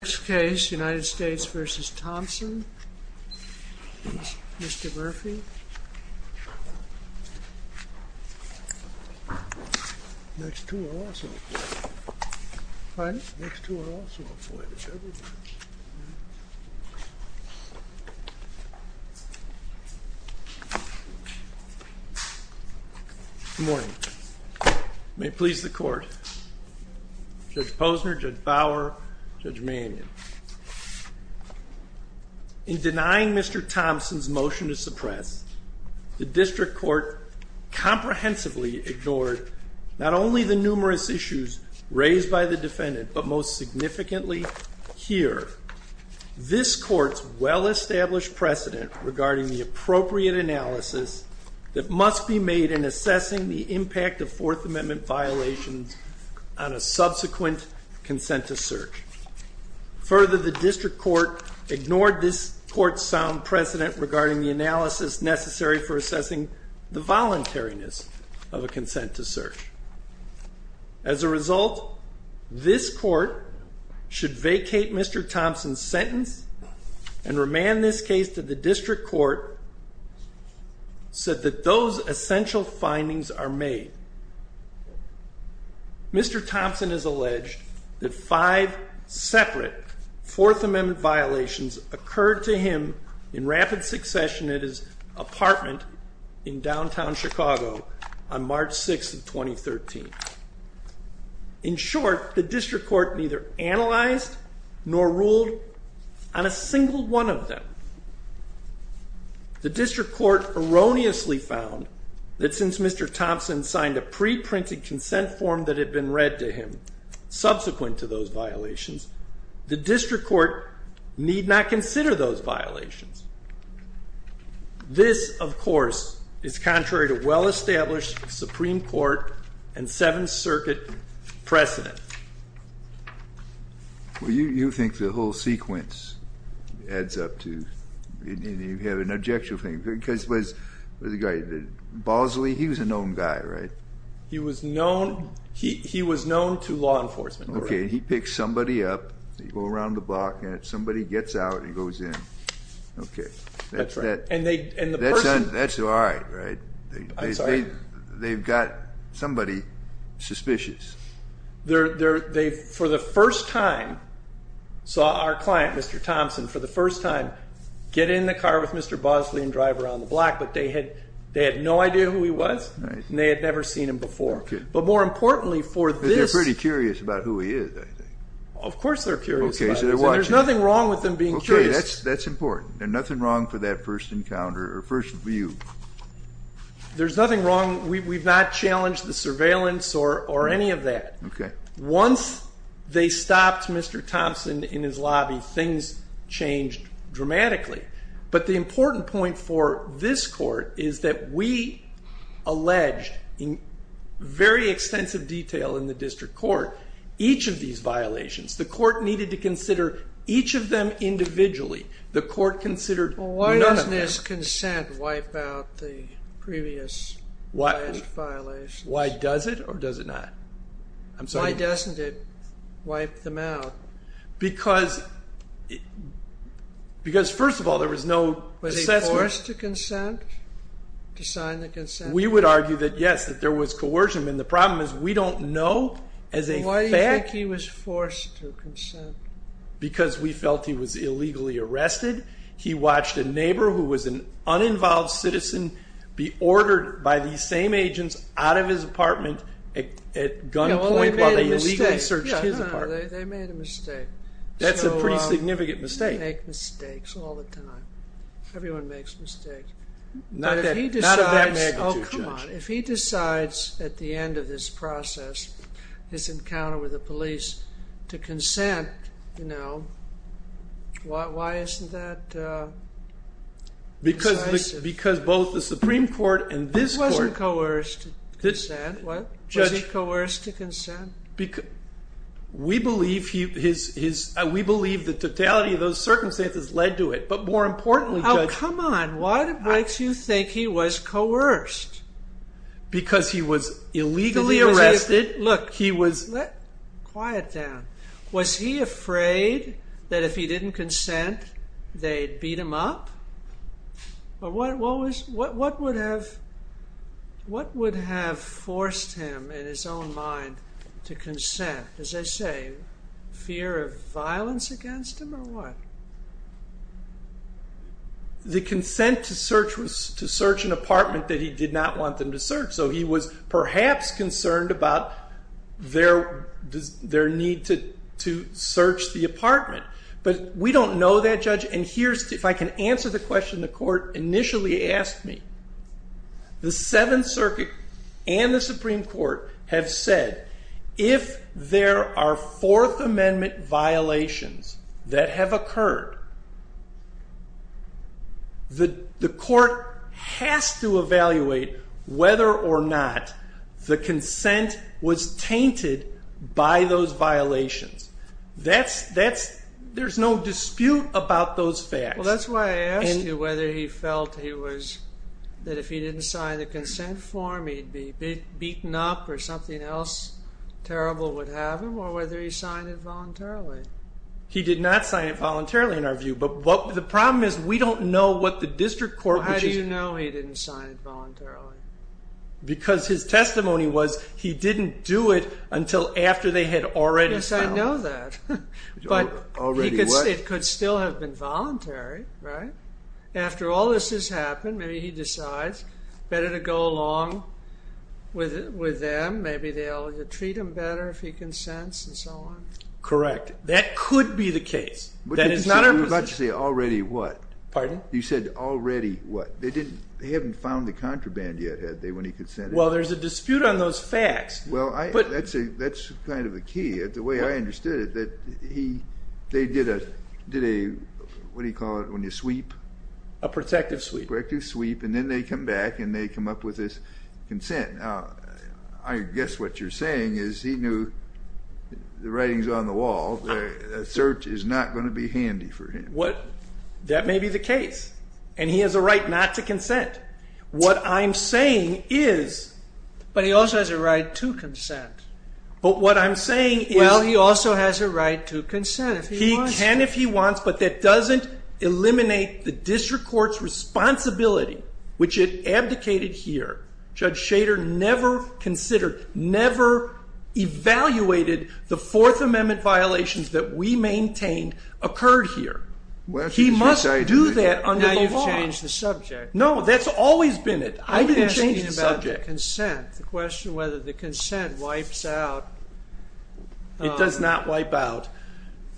Next case, United States v. Thompson, Mr. Murphy Good morning. May it please the court. Judge Posner, Judge Bower, Judge Mannion. In denying Mr. Thompson's motion to suppress, the district court comprehensively ignored not only the numerous issues raised by the defendant, but most significantly, here, this court's well-established precedent regarding the appropriate analysis that must be made in assessing the impact of Fourth Amendment violations on a subsequent consent to search. Further, the district court ignored this court's sound precedent regarding the analysis necessary for assessing the voluntariness of a consent to search. As a result, this court should vacate Mr. Thompson's sentence and remand this case to the district court, said that those essential findings are made. Mr. Thompson has alleged that five separate Fourth Amendment violations occurred to him in rapid succession at his apartment in downtown Chicago on March 6, 2013. In short, the district court neither analyzed nor ruled on a single one of them. The district court erroneously found that since Mr. Thompson signed a pre-printed consent form that had been read to him subsequent to those violations, the district court need not consider those violations. This, of course, is contrary to well-established Supreme Court and Seventh Circuit precedent. Well, you think the whole sequence adds up to, you have an objection thing, because the guy, Bosley, he was a known guy, right? He was known, he was known to law enforcement. Okay, he picks somebody up, they go around the block, and somebody gets out and goes in. Okay. That's right. That's all right, right? I'm sorry? They've got somebody suspicious. They, for the first time, saw our client, Mr. Thompson, for the first time, get in the car with Mr. Bosley and drive around the block, but they had no idea who he was, and they had never seen him before. Okay. But more importantly for this. Because they're pretty curious about who he is, I think. Of course they're curious about it. Okay, so they're watching. There's nothing wrong with them being curious. Okay, that's important. There's nothing wrong for that first encounter, or first view. There's nothing wrong. We've not challenged the surveillance or any of that. Okay. Once they stopped Mr. Thompson in his lobby, things changed dramatically. But the important point for this court is that we alleged, in very extensive detail in the district court, each of these violations. The court needed to consider each of them individually. The court considered none of them. Why does consent wipe out the previous violations? Why does it or does it not? I'm sorry. Why doesn't it wipe them out? Because, first of all, there was no assessment. Was he forced to consent, to sign the consent? We would argue that yes, that there was coercion. And the problem is we don't know as a fact. Why do you think he was forced to consent? Because we felt he was illegally arrested. He watched a neighbor who was an uninvolved citizen be ordered by these same agents out of his apartment at gunpoint while they illegally searched his apartment. They made a mistake. That's a pretty significant mistake. They make mistakes all the time. Not of that magnitude, Judge. If he decides at the end of this process, his encounter with the police, to consent, you know, why isn't that decisive? Because both the Supreme Court and this court... He wasn't coerced to consent. Was he coerced to consent? We believe the totality of those circumstances led to it. But more importantly... Oh, come on. And why do you think he was coerced? Because he was illegally arrested. Look, quiet down. Was he afraid that if he didn't consent, they'd beat him up? What would have forced him, in his own mind, to consent? As they say, fear of violence against him or what? The consent to search was to search an apartment that he did not want them to search. So he was perhaps concerned about their need to search the apartment. But we don't know that, Judge. And here's... If I can answer the question the court initially asked me. The Seventh Circuit and the Supreme Court have said, if there are Fourth Amendment violations that have occurred, the court has to evaluate whether or not the consent was tainted by those violations. There's no dispute about those facts. Well, that's why I asked you whether he felt that if he didn't sign the consent form, he'd be beaten up or something else terrible would happen, or whether he signed it voluntarily. He did not sign it voluntarily, in our view. But the problem is we don't know what the district court... How do you know he didn't sign it voluntarily? Because his testimony was he didn't do it until after they had already found... Yes, I know that. Already what? Because it could still have been voluntary, right? After all this has happened, maybe he decides better to go along with them. Maybe they'll treat him better if he consents and so on. Correct. That could be the case. That is not our position. But you said already what? Pardon? You said already what? They haven't found the contraband yet, have they, when he consented? Well, there's a dispute on those facts. Well, that's kind of the key. The way I understood it, they did a, what do you call it when you sweep? A protective sweep. A protective sweep, and then they come back and they come up with this consent. Now, I guess what you're saying is he knew the writing's on the wall. A search is not going to be handy for him. That may be the case. And he has a right not to consent. What I'm saying is... But he also has a right to consent. But what I'm saying is... Well, he also has a right to consent if he wants to. He can if he wants, but that doesn't eliminate the district court's responsibility, which it abdicated here. Judge Schader never considered, never evaluated the Fourth Amendment violations that we maintained occurred here. He must do that under the law. Now you've changed the subject. No, that's always been it. I didn't change the subject. The question whether the consent wipes out... It does not wipe out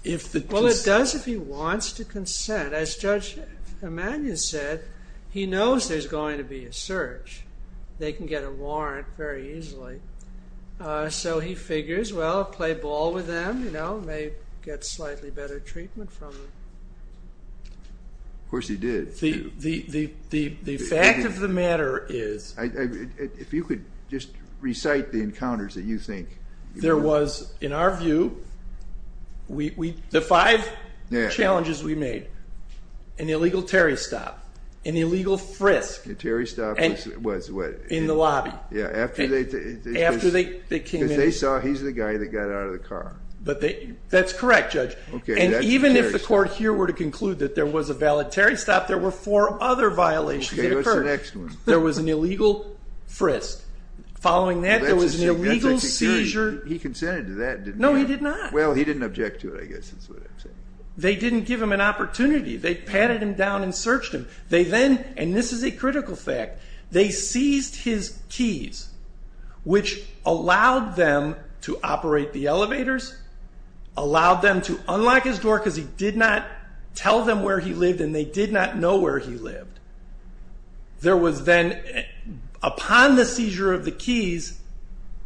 if the... Well, it does if he wants to consent. As Judge Emanuel said, he knows there's going to be a search. They can get a warrant very easily. So he figures, well, play ball with them, you know, may get slightly better treatment from them. Of course he did. The fact of the matter is... If you could just recite the encounters that you think... There was, in our view, the five challenges we made, an illegal Terry stop, an illegal frisk. A Terry stop was what? In the lobby. Yeah, after they... After they came in. Because they saw he's the guy that got out of the car. That's correct, Judge. Okay, that's a Terry stop. And even if the court here were to conclude that there was a valid Terry stop, there were four other violations that occurred. Okay, what's the next one? There was an illegal frisk. Following that, there was an illegal seizure. He consented to that, didn't he? No, he did not. Well, he didn't object to it, I guess is what I'm saying. They didn't give him an opportunity. They patted him down and searched him. They then, and this is a critical fact, they seized his keys, which allowed them to operate the elevators, allowed them to unlock his door because he did not tell them where he lived and they did not know where he lived. There was then, upon the seizure of the keys,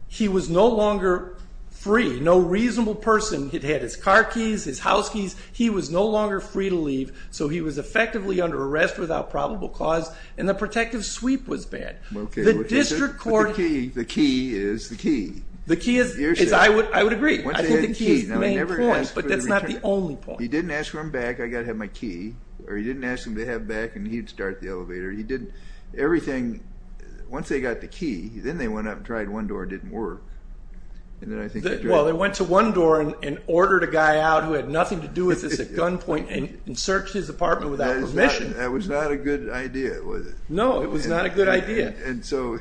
he was no longer free. No reasonable person had had his car keys, his house keys. He was no longer free to leave, so he was effectively under arrest without probable cause and the protective sweep was bad. The district court... The key is the key. The key is, I would agree. I think the key is the main point, but that's not the only point. He didn't ask for them back, I've got to have my key, or he didn't ask them to have it back and he'd start the elevator. He didn't, everything, once they got the key, then they went up and tried one door and it didn't work. Well, they went to one door and ordered a guy out who had nothing to do with this at gunpoint and searched his apartment without permission. That was not a good idea, was it? No, it was not a good idea. And so,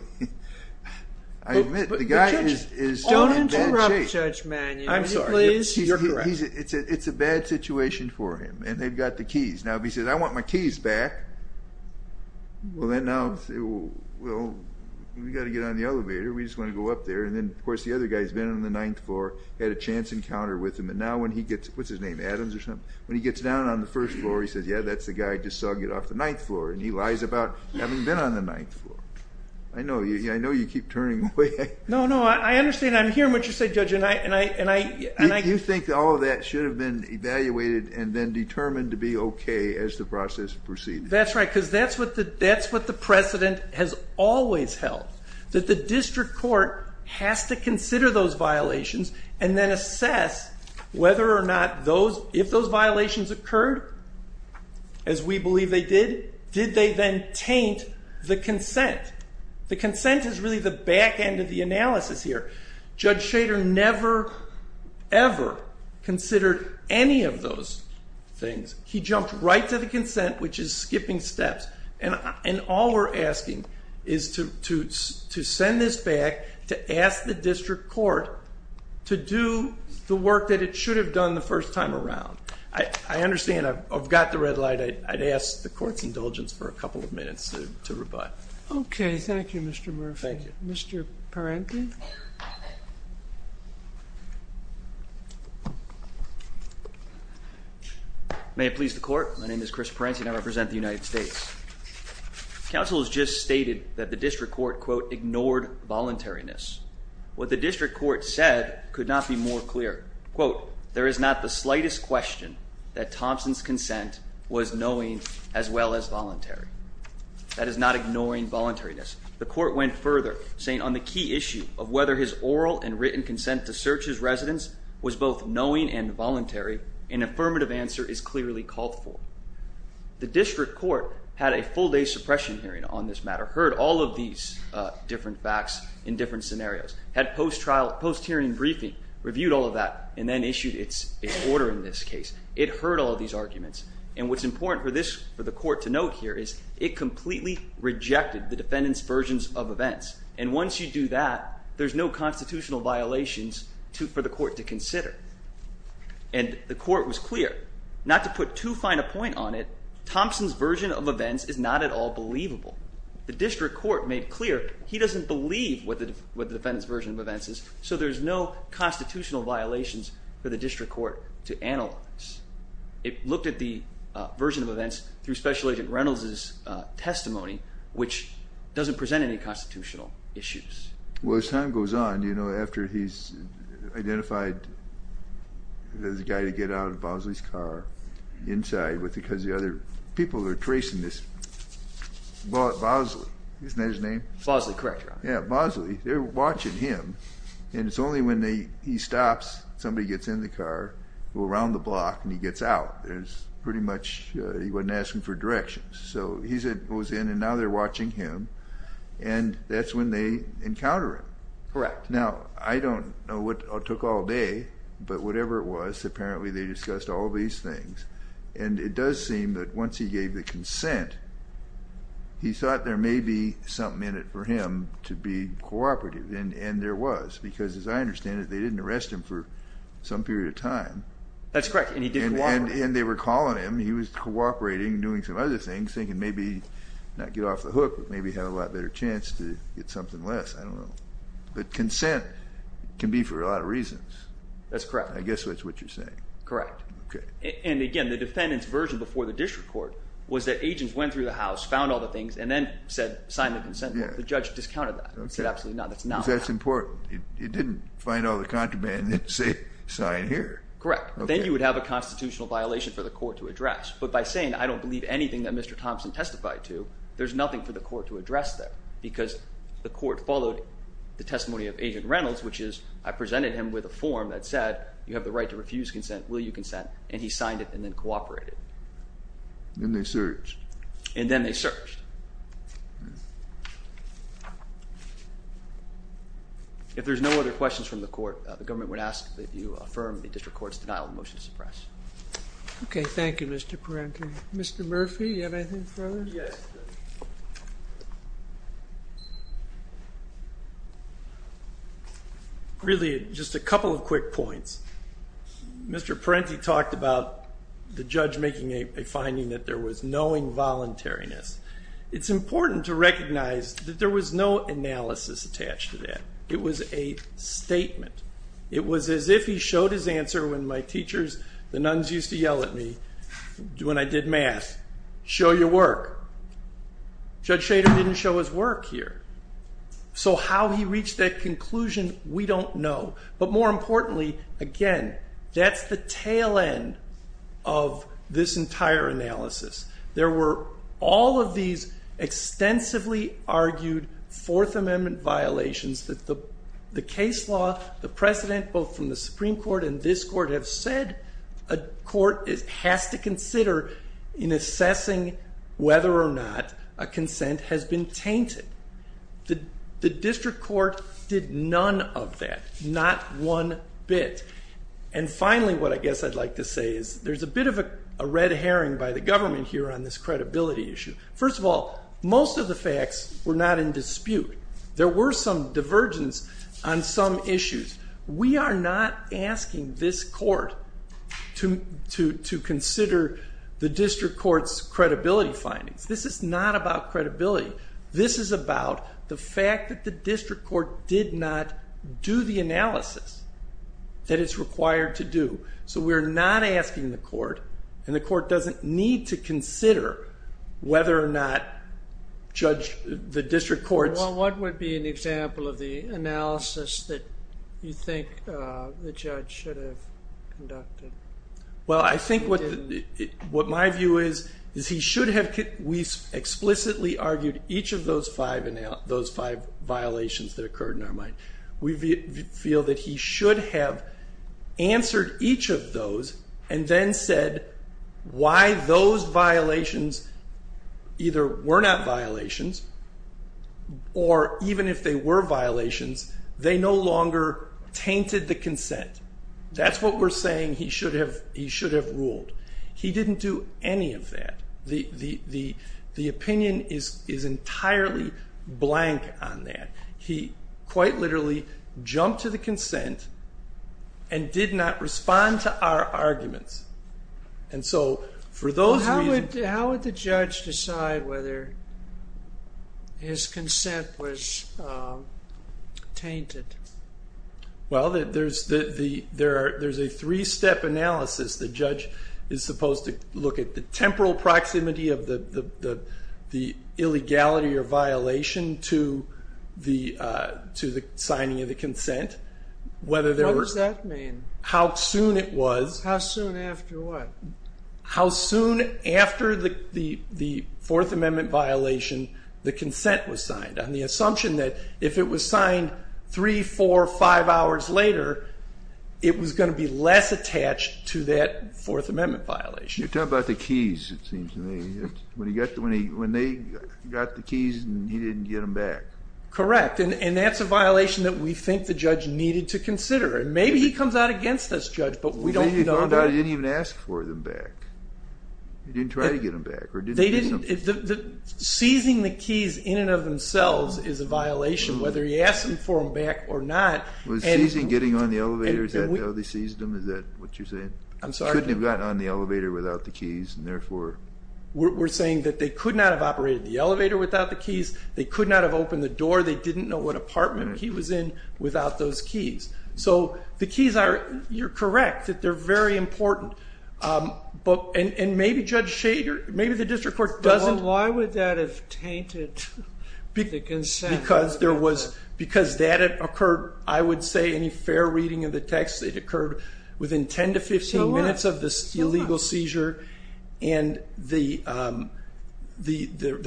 I admit, the guy is in bad shape. Don't interrupt Judge Manuel, please. You're correct. It's a bad situation for him and they've got the keys. Now, if he says, I want my keys back, well, then now, we've got to get on the elevator, we just want to go up there, and then, of course, the other guy's been on the 9th floor, had a chance encounter with him, and now when he gets, what's his name, Adams or something, when he gets down on the 1st floor, he says, yeah, that's the guy I just saw get off the 9th floor, and he lies about having been on the 9th floor. I know you keep turning away. No, no, I understand. I'm hearing what you're saying, Judge, and I... I think all of that should have been evaluated and then determined to be okay as the process proceeded. That's right, because that's what the precedent has always held, that the district court has to consider those violations and then assess whether or not those, if those violations occurred, as we believe they did, did they then taint the consent? The consent is really the back end of the analysis here. Judge Shader never, ever considered any of those things. He jumped right to the consent, which is skipping steps, and all we're asking is to send this back, to ask the district court to do the work that it should have done the first time around. I understand I've got the red light. I'd ask the court's indulgence for a couple of minutes to rebut. Okay, thank you, Mr. Murphy. Thank you. Mr. Parente? May it please the court, my name is Chris Parente and I represent the United States. Counsel has just stated that the district court, quote, ignored voluntariness. What the district court said could not be more clear. Quote, there is not the slightest question that Thompson's consent was knowing as well as voluntary. That is not ignoring voluntariness. The court went further, saying on the key issue of whether his oral and written consent to search his residence was both knowing and voluntary, an affirmative answer is clearly called for. The district court had a full-day suppression hearing on this matter, heard all of these different facts in different scenarios, had a post-hearing briefing, reviewed all of that, and then issued its order in this case. It heard all of these arguments, and what's important for the court to note here is it completely rejected the defendant's versions of events. And once you do that, there's no constitutional violations for the court to consider. And the court was clear. Not to put too fine a point on it, Thompson's version of events is not at all believable. The district court made clear he doesn't believe what the defendant's version of events is, so there's no constitutional violations for the district court to analyze. It looked at the version of events through Special Agent Reynolds' testimony, which doesn't present any constitutional issues. Well, as time goes on, you know, after he's identified as the guy to get out of Bosley's car inside, because the other people are tracing this... Bosley, isn't that his name? Bosley, correct, Your Honor. Yeah, Bosley, they're watching him, and it's only when he stops, somebody gets in the car, go around the block, and he gets out. There's pretty much... he wasn't asking for directions. So he goes in, and now they're watching him, and that's when they encounter him. Correct. Now, I don't know what it took all day, but whatever it was, apparently they discussed all these things. And it does seem that once he gave the consent, he thought there may be something in it for him to be cooperative, and there was, because as I understand it, they didn't arrest him for some period of time. That's correct, and he didn't cooperate. And they were calling him. He was cooperating, doing some other things, thinking maybe not get off the hook, but maybe have a lot better chance to get something less. I don't know. But consent can be for a lot of reasons. That's correct. I guess that's what you're saying. Correct. Okay. And again, the defendant's version before the district court was that agents went through the house, found all the things, and then said sign the consent form. The judge discounted that and said absolutely not. Because that's important. He didn't find all the contraband and say sign here. Correct. Then you would have a constitutional violation for the court to address. But by saying I don't believe anything that Mr. Thompson testified to, there's nothing for the court to address there because the court followed the testimony of Agent Reynolds, which is I presented him with a form that said you have the right to refuse consent, will you consent, and he signed it and then cooperated. And then they searched. And then they searched. If there's no other questions from the court, the government would ask that you affirm the district court's denial of the motion to suppress. Okay. Thank you, Mr. Parenti. Mr. Murphy, do you have anything further? Yes. Really, just a couple of quick points. Mr. Parenti talked about the judge making a finding that there was no involuntariness. It's important to recognize that there was no analysis attached to that. It was a statement. It was as if he showed his answer when my teachers, the nuns used to yell at me when I did math, show your work. Judge Schrader didn't show his work here. So how he reached that conclusion, we don't know. But more importantly, again, that's the tail end of this entire analysis. There were all of these extensively argued Fourth Amendment violations that the case law, the precedent, both from the Supreme Court and this court have said a court has to consider in assessing whether or not a consent has been tainted. The district court did none of that, not one bit. And finally, what I guess I'd like to say is there's a bit of a red herring by the government here on this credibility issue. First of all, most of the facts were not in dispute. There were some divergence on some issues. We are not asking this court to consider the district court's credibility findings. This is not about credibility. This is about the fact that the district court did not do the analysis that it's required to do. So we're not asking the court, and the court doesn't need to consider whether or not the district court's What would be an example of the analysis that you think the judge should have conducted? Well, I think what my view is, is he should have explicitly argued each of those five violations that occurred in our mind. We feel that he should have answered each of those and then said why those violations either were not violations or even if they were violations, they no longer tainted the consent. That's what we're saying he should have ruled. He didn't do any of that. The opinion is entirely blank on that. He quite literally jumped to the consent and did not respond to our arguments. How would the judge decide whether his consent was tainted? Well, there's a three-step analysis. The judge is supposed to look at the temporal proximity of the illegality or violation to the signing of the consent. What does that mean? How soon it was. How soon after what? How soon after the Fourth Amendment violation, the consent was signed. The assumption that if it was signed three, four, five hours later, it was going to be less attached to that Fourth Amendment violation. You're talking about the keys, it seems to me. When they got the keys and he didn't get them back. Correct, and that's a violation that we think the judge needed to consider. Maybe he comes out against us, Judge, but we don't know. Maybe he didn't even ask for them back. He didn't try to get them back. Seizing the keys in and of themselves is a violation, whether he asked them for them back or not. Was seizing getting on the elevator, is that how they seized them? Is that what you're saying? I'm sorry. Couldn't have gotten on the elevator without the keys, and therefore. We're saying that they could not have operated the elevator without the keys. They could not have opened the door. They didn't know what apartment he was in without those keys. The keys are, you're correct, that they're very important. Maybe Judge Shader, maybe the district court doesn't. Why would that have tainted the consent? Because that occurred, I would say, any fair reading of the text, it occurred within 10 to 15 minutes of the illegal seizure. There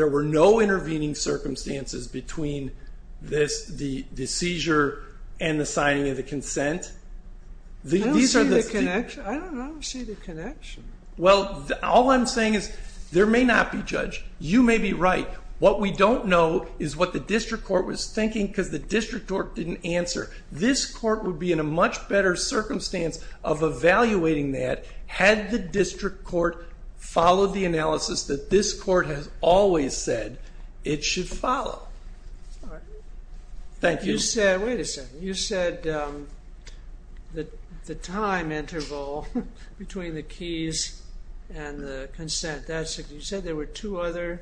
were no intervening circumstances between the seizure and the signing of the consent. I don't see the connection. Well, all I'm saying is there may not be, Judge. You may be right. What we don't know is what the district court was thinking, because the district court didn't answer. This court would be in a much better circumstance of evaluating that had the district court followed the analysis that this court has always said it should follow. Thank you. Wait a second. You said the time interval between the keys and the consent, you said there were two other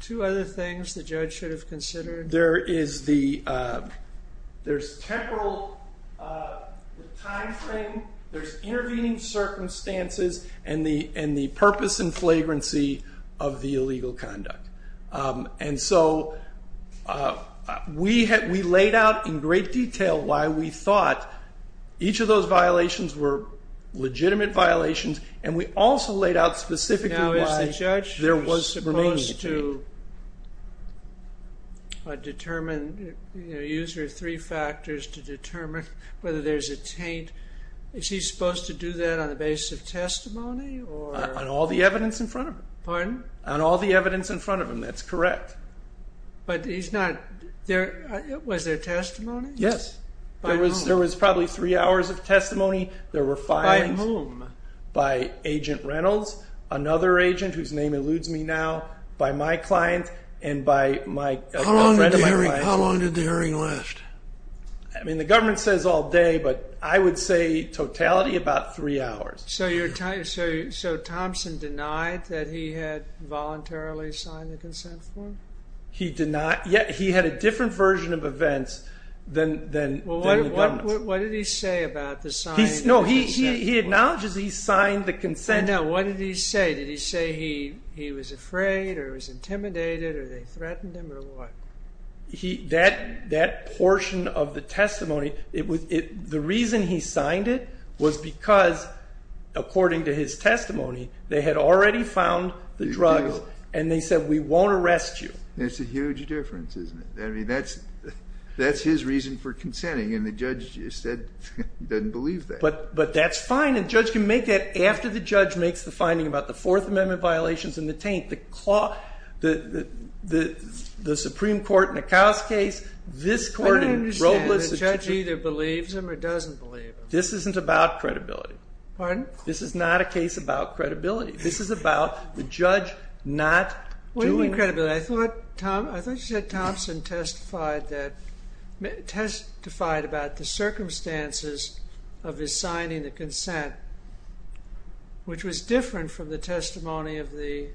things the judge should have considered? There is the temporal timeframe, there's intervening circumstances, and the purpose and flagrancy of the illegal conduct. And so we laid out in great detail why we thought each of those violations were legitimate violations, and we also laid out specifically why there was remaining taint. Now, is the judge supposed to determine, use your three factors to determine whether there's a taint? Is he supposed to do that on the basis of testimony? On all the evidence in front of him. Pardon? On all the evidence in front of him. That's correct. But he's not, was there testimony? Yes. There was probably three hours of testimony. There were fines. By whom? By Agent Reynolds, another agent whose name eludes me now, by my client, and by a friend of my client. How long did the hearing last? I mean, the government says all day, but I would say totality about three hours. So Thompson denied that he had voluntarily signed the consent form? He did not. He had a different version of events than the government. Well, what did he say about the signing of the consent form? No, he acknowledges he signed the consent form. No, what did he say? Did he say he was afraid, or he was intimidated, or they threatened him, or what? That portion of the testimony, the reason he signed it was because, according to his testimony, they had already found the drugs, and they said, We won't arrest you. That's a huge difference, isn't it? I mean, that's his reason for consenting, and the judge said he doesn't believe that. But that's fine. A judge can make that after the judge makes the finding about the Fourth Amendment violations and the taint. The Supreme Court in Akau's case, I don't understand. The judge either believes him or doesn't believe him. This isn't about credibility. Pardon? This is not a case about credibility. This is about the judge not doing credibility. I thought you said Thompson testified about the circumstances of his signing the consent, which was different from the testimony of the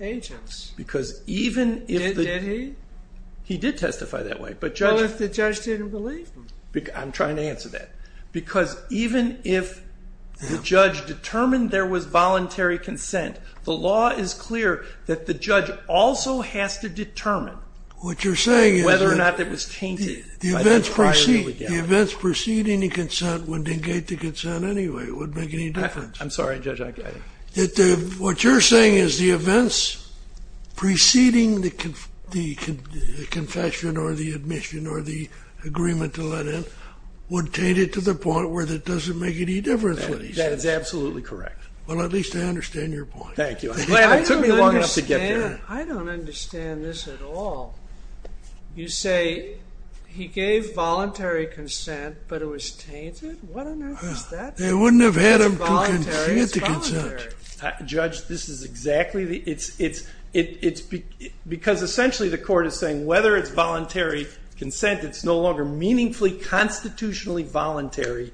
agents. Because even if the Did he? He did testify that way. What if the judge didn't believe him? I'm trying to answer that. Because even if the judge determined there was voluntary consent, the law is clear that the judge also has to determine whether or not it was tainted. The events preceding the consent would negate the consent anyway. It wouldn't make any difference. I'm sorry, Judge. What you're saying is the events preceding the confession or the admission or the agreement to let in would taint it to the point where it doesn't make any difference. That is absolutely correct. Well, at least I understand your point. Thank you. It took me long enough to get there. I don't understand this at all. You say he gave voluntary consent, but it was tainted? What on earth is that? They wouldn't have had him to consent. It's voluntary. Judge, this is exactly the... It's because essentially the court is saying whether it's voluntary consent, it's no longer meaningfully constitutionally voluntary.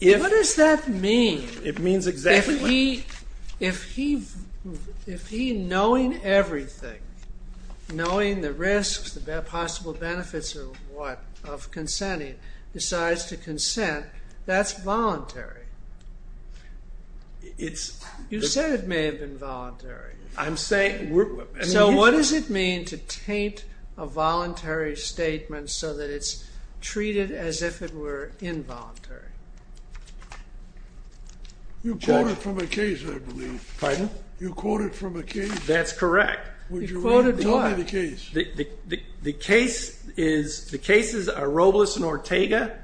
What does that mean? It means exactly that. If he, knowing everything, knowing the risks, the possible benefits of what, of consenting, decides to consent, that's voluntary. You said it may have been voluntary. I'm saying... So what does it mean to taint a voluntary statement so that it's treated as if it were involuntary? You quoted from a case, I believe. Pardon? You quoted from a case. That's correct. You quoted what? Tell me the case. The case is... The cases are Robles and Ortega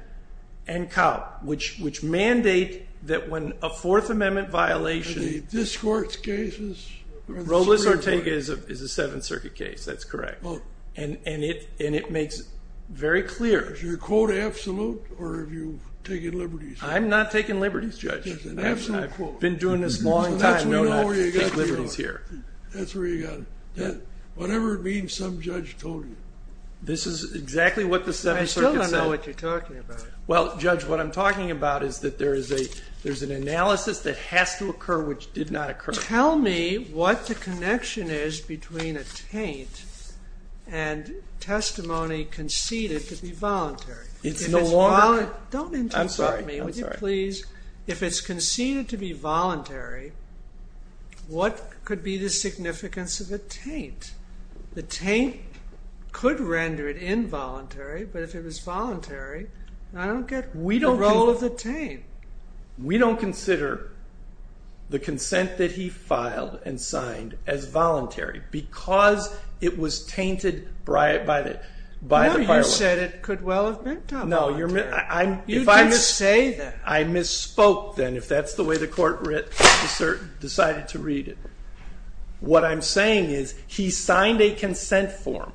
and Kaupp, which mandate that when a Fourth Amendment violation... Are they this court's cases? Robles and Ortega is a Seventh Circuit case. That's correct. And it makes it very clear... Is your quote absolute, or have you taken liberties? I'm not taking liberties, Judge. I've been doing this a long time, not taking liberties here. That's where you got it. Whatever it means, some judge told you. This is exactly what the Seventh Circuit said. I still don't know what you're talking about. Well, Judge, what I'm talking about is that there's an analysis that has to occur which did not occur. Tell me what the connection is between a taint and testimony conceded to be voluntary. It's no longer... Don't interrupt me, would you please? I'm sorry. If it's conceded to be voluntary, what could be the significance of a taint? The taint could render it involuntary, but if it was voluntary, I don't get the role of the taint. We don't consider the consent that he filed and signed as voluntary because it was tainted by the prior one. No, you said it could well have been done voluntarily. You didn't say that. I misspoke then, but if that's the way the court decided to read it, what I'm saying is he signed a consent form,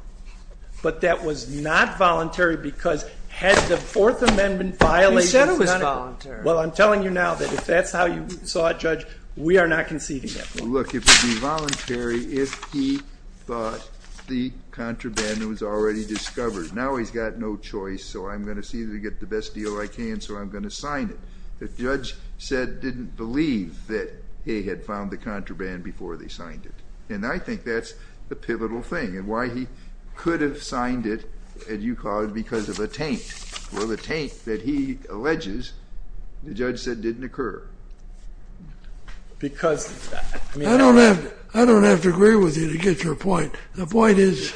but that was not voluntary because had the Fourth Amendment violated... You said it was voluntary. Well, I'm telling you now that if that's how you saw it, Judge, we are not conceding that form. Look, it would be voluntary if he thought the contraband was already discovered. Now he's got no choice, so I'm going to see that I get the best deal I can, so I'm going to sign it. The judge said he didn't believe that he had found the contraband before they signed it, and I think that's the pivotal thing and why he could have signed it, as you call it, because of a taint. Well, the taint that he alleges, the judge said didn't occur. Because... I don't have to agree with you to get to a point. The point is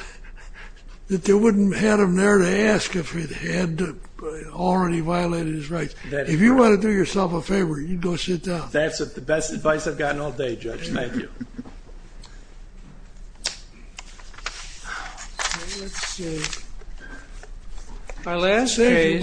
that they wouldn't have had him there to ask if it had already violated his rights. If you want to do yourself a favor, you can go sit down. That's the best advice I've gotten all day, Judge. Thank you. Let's see. Our last case...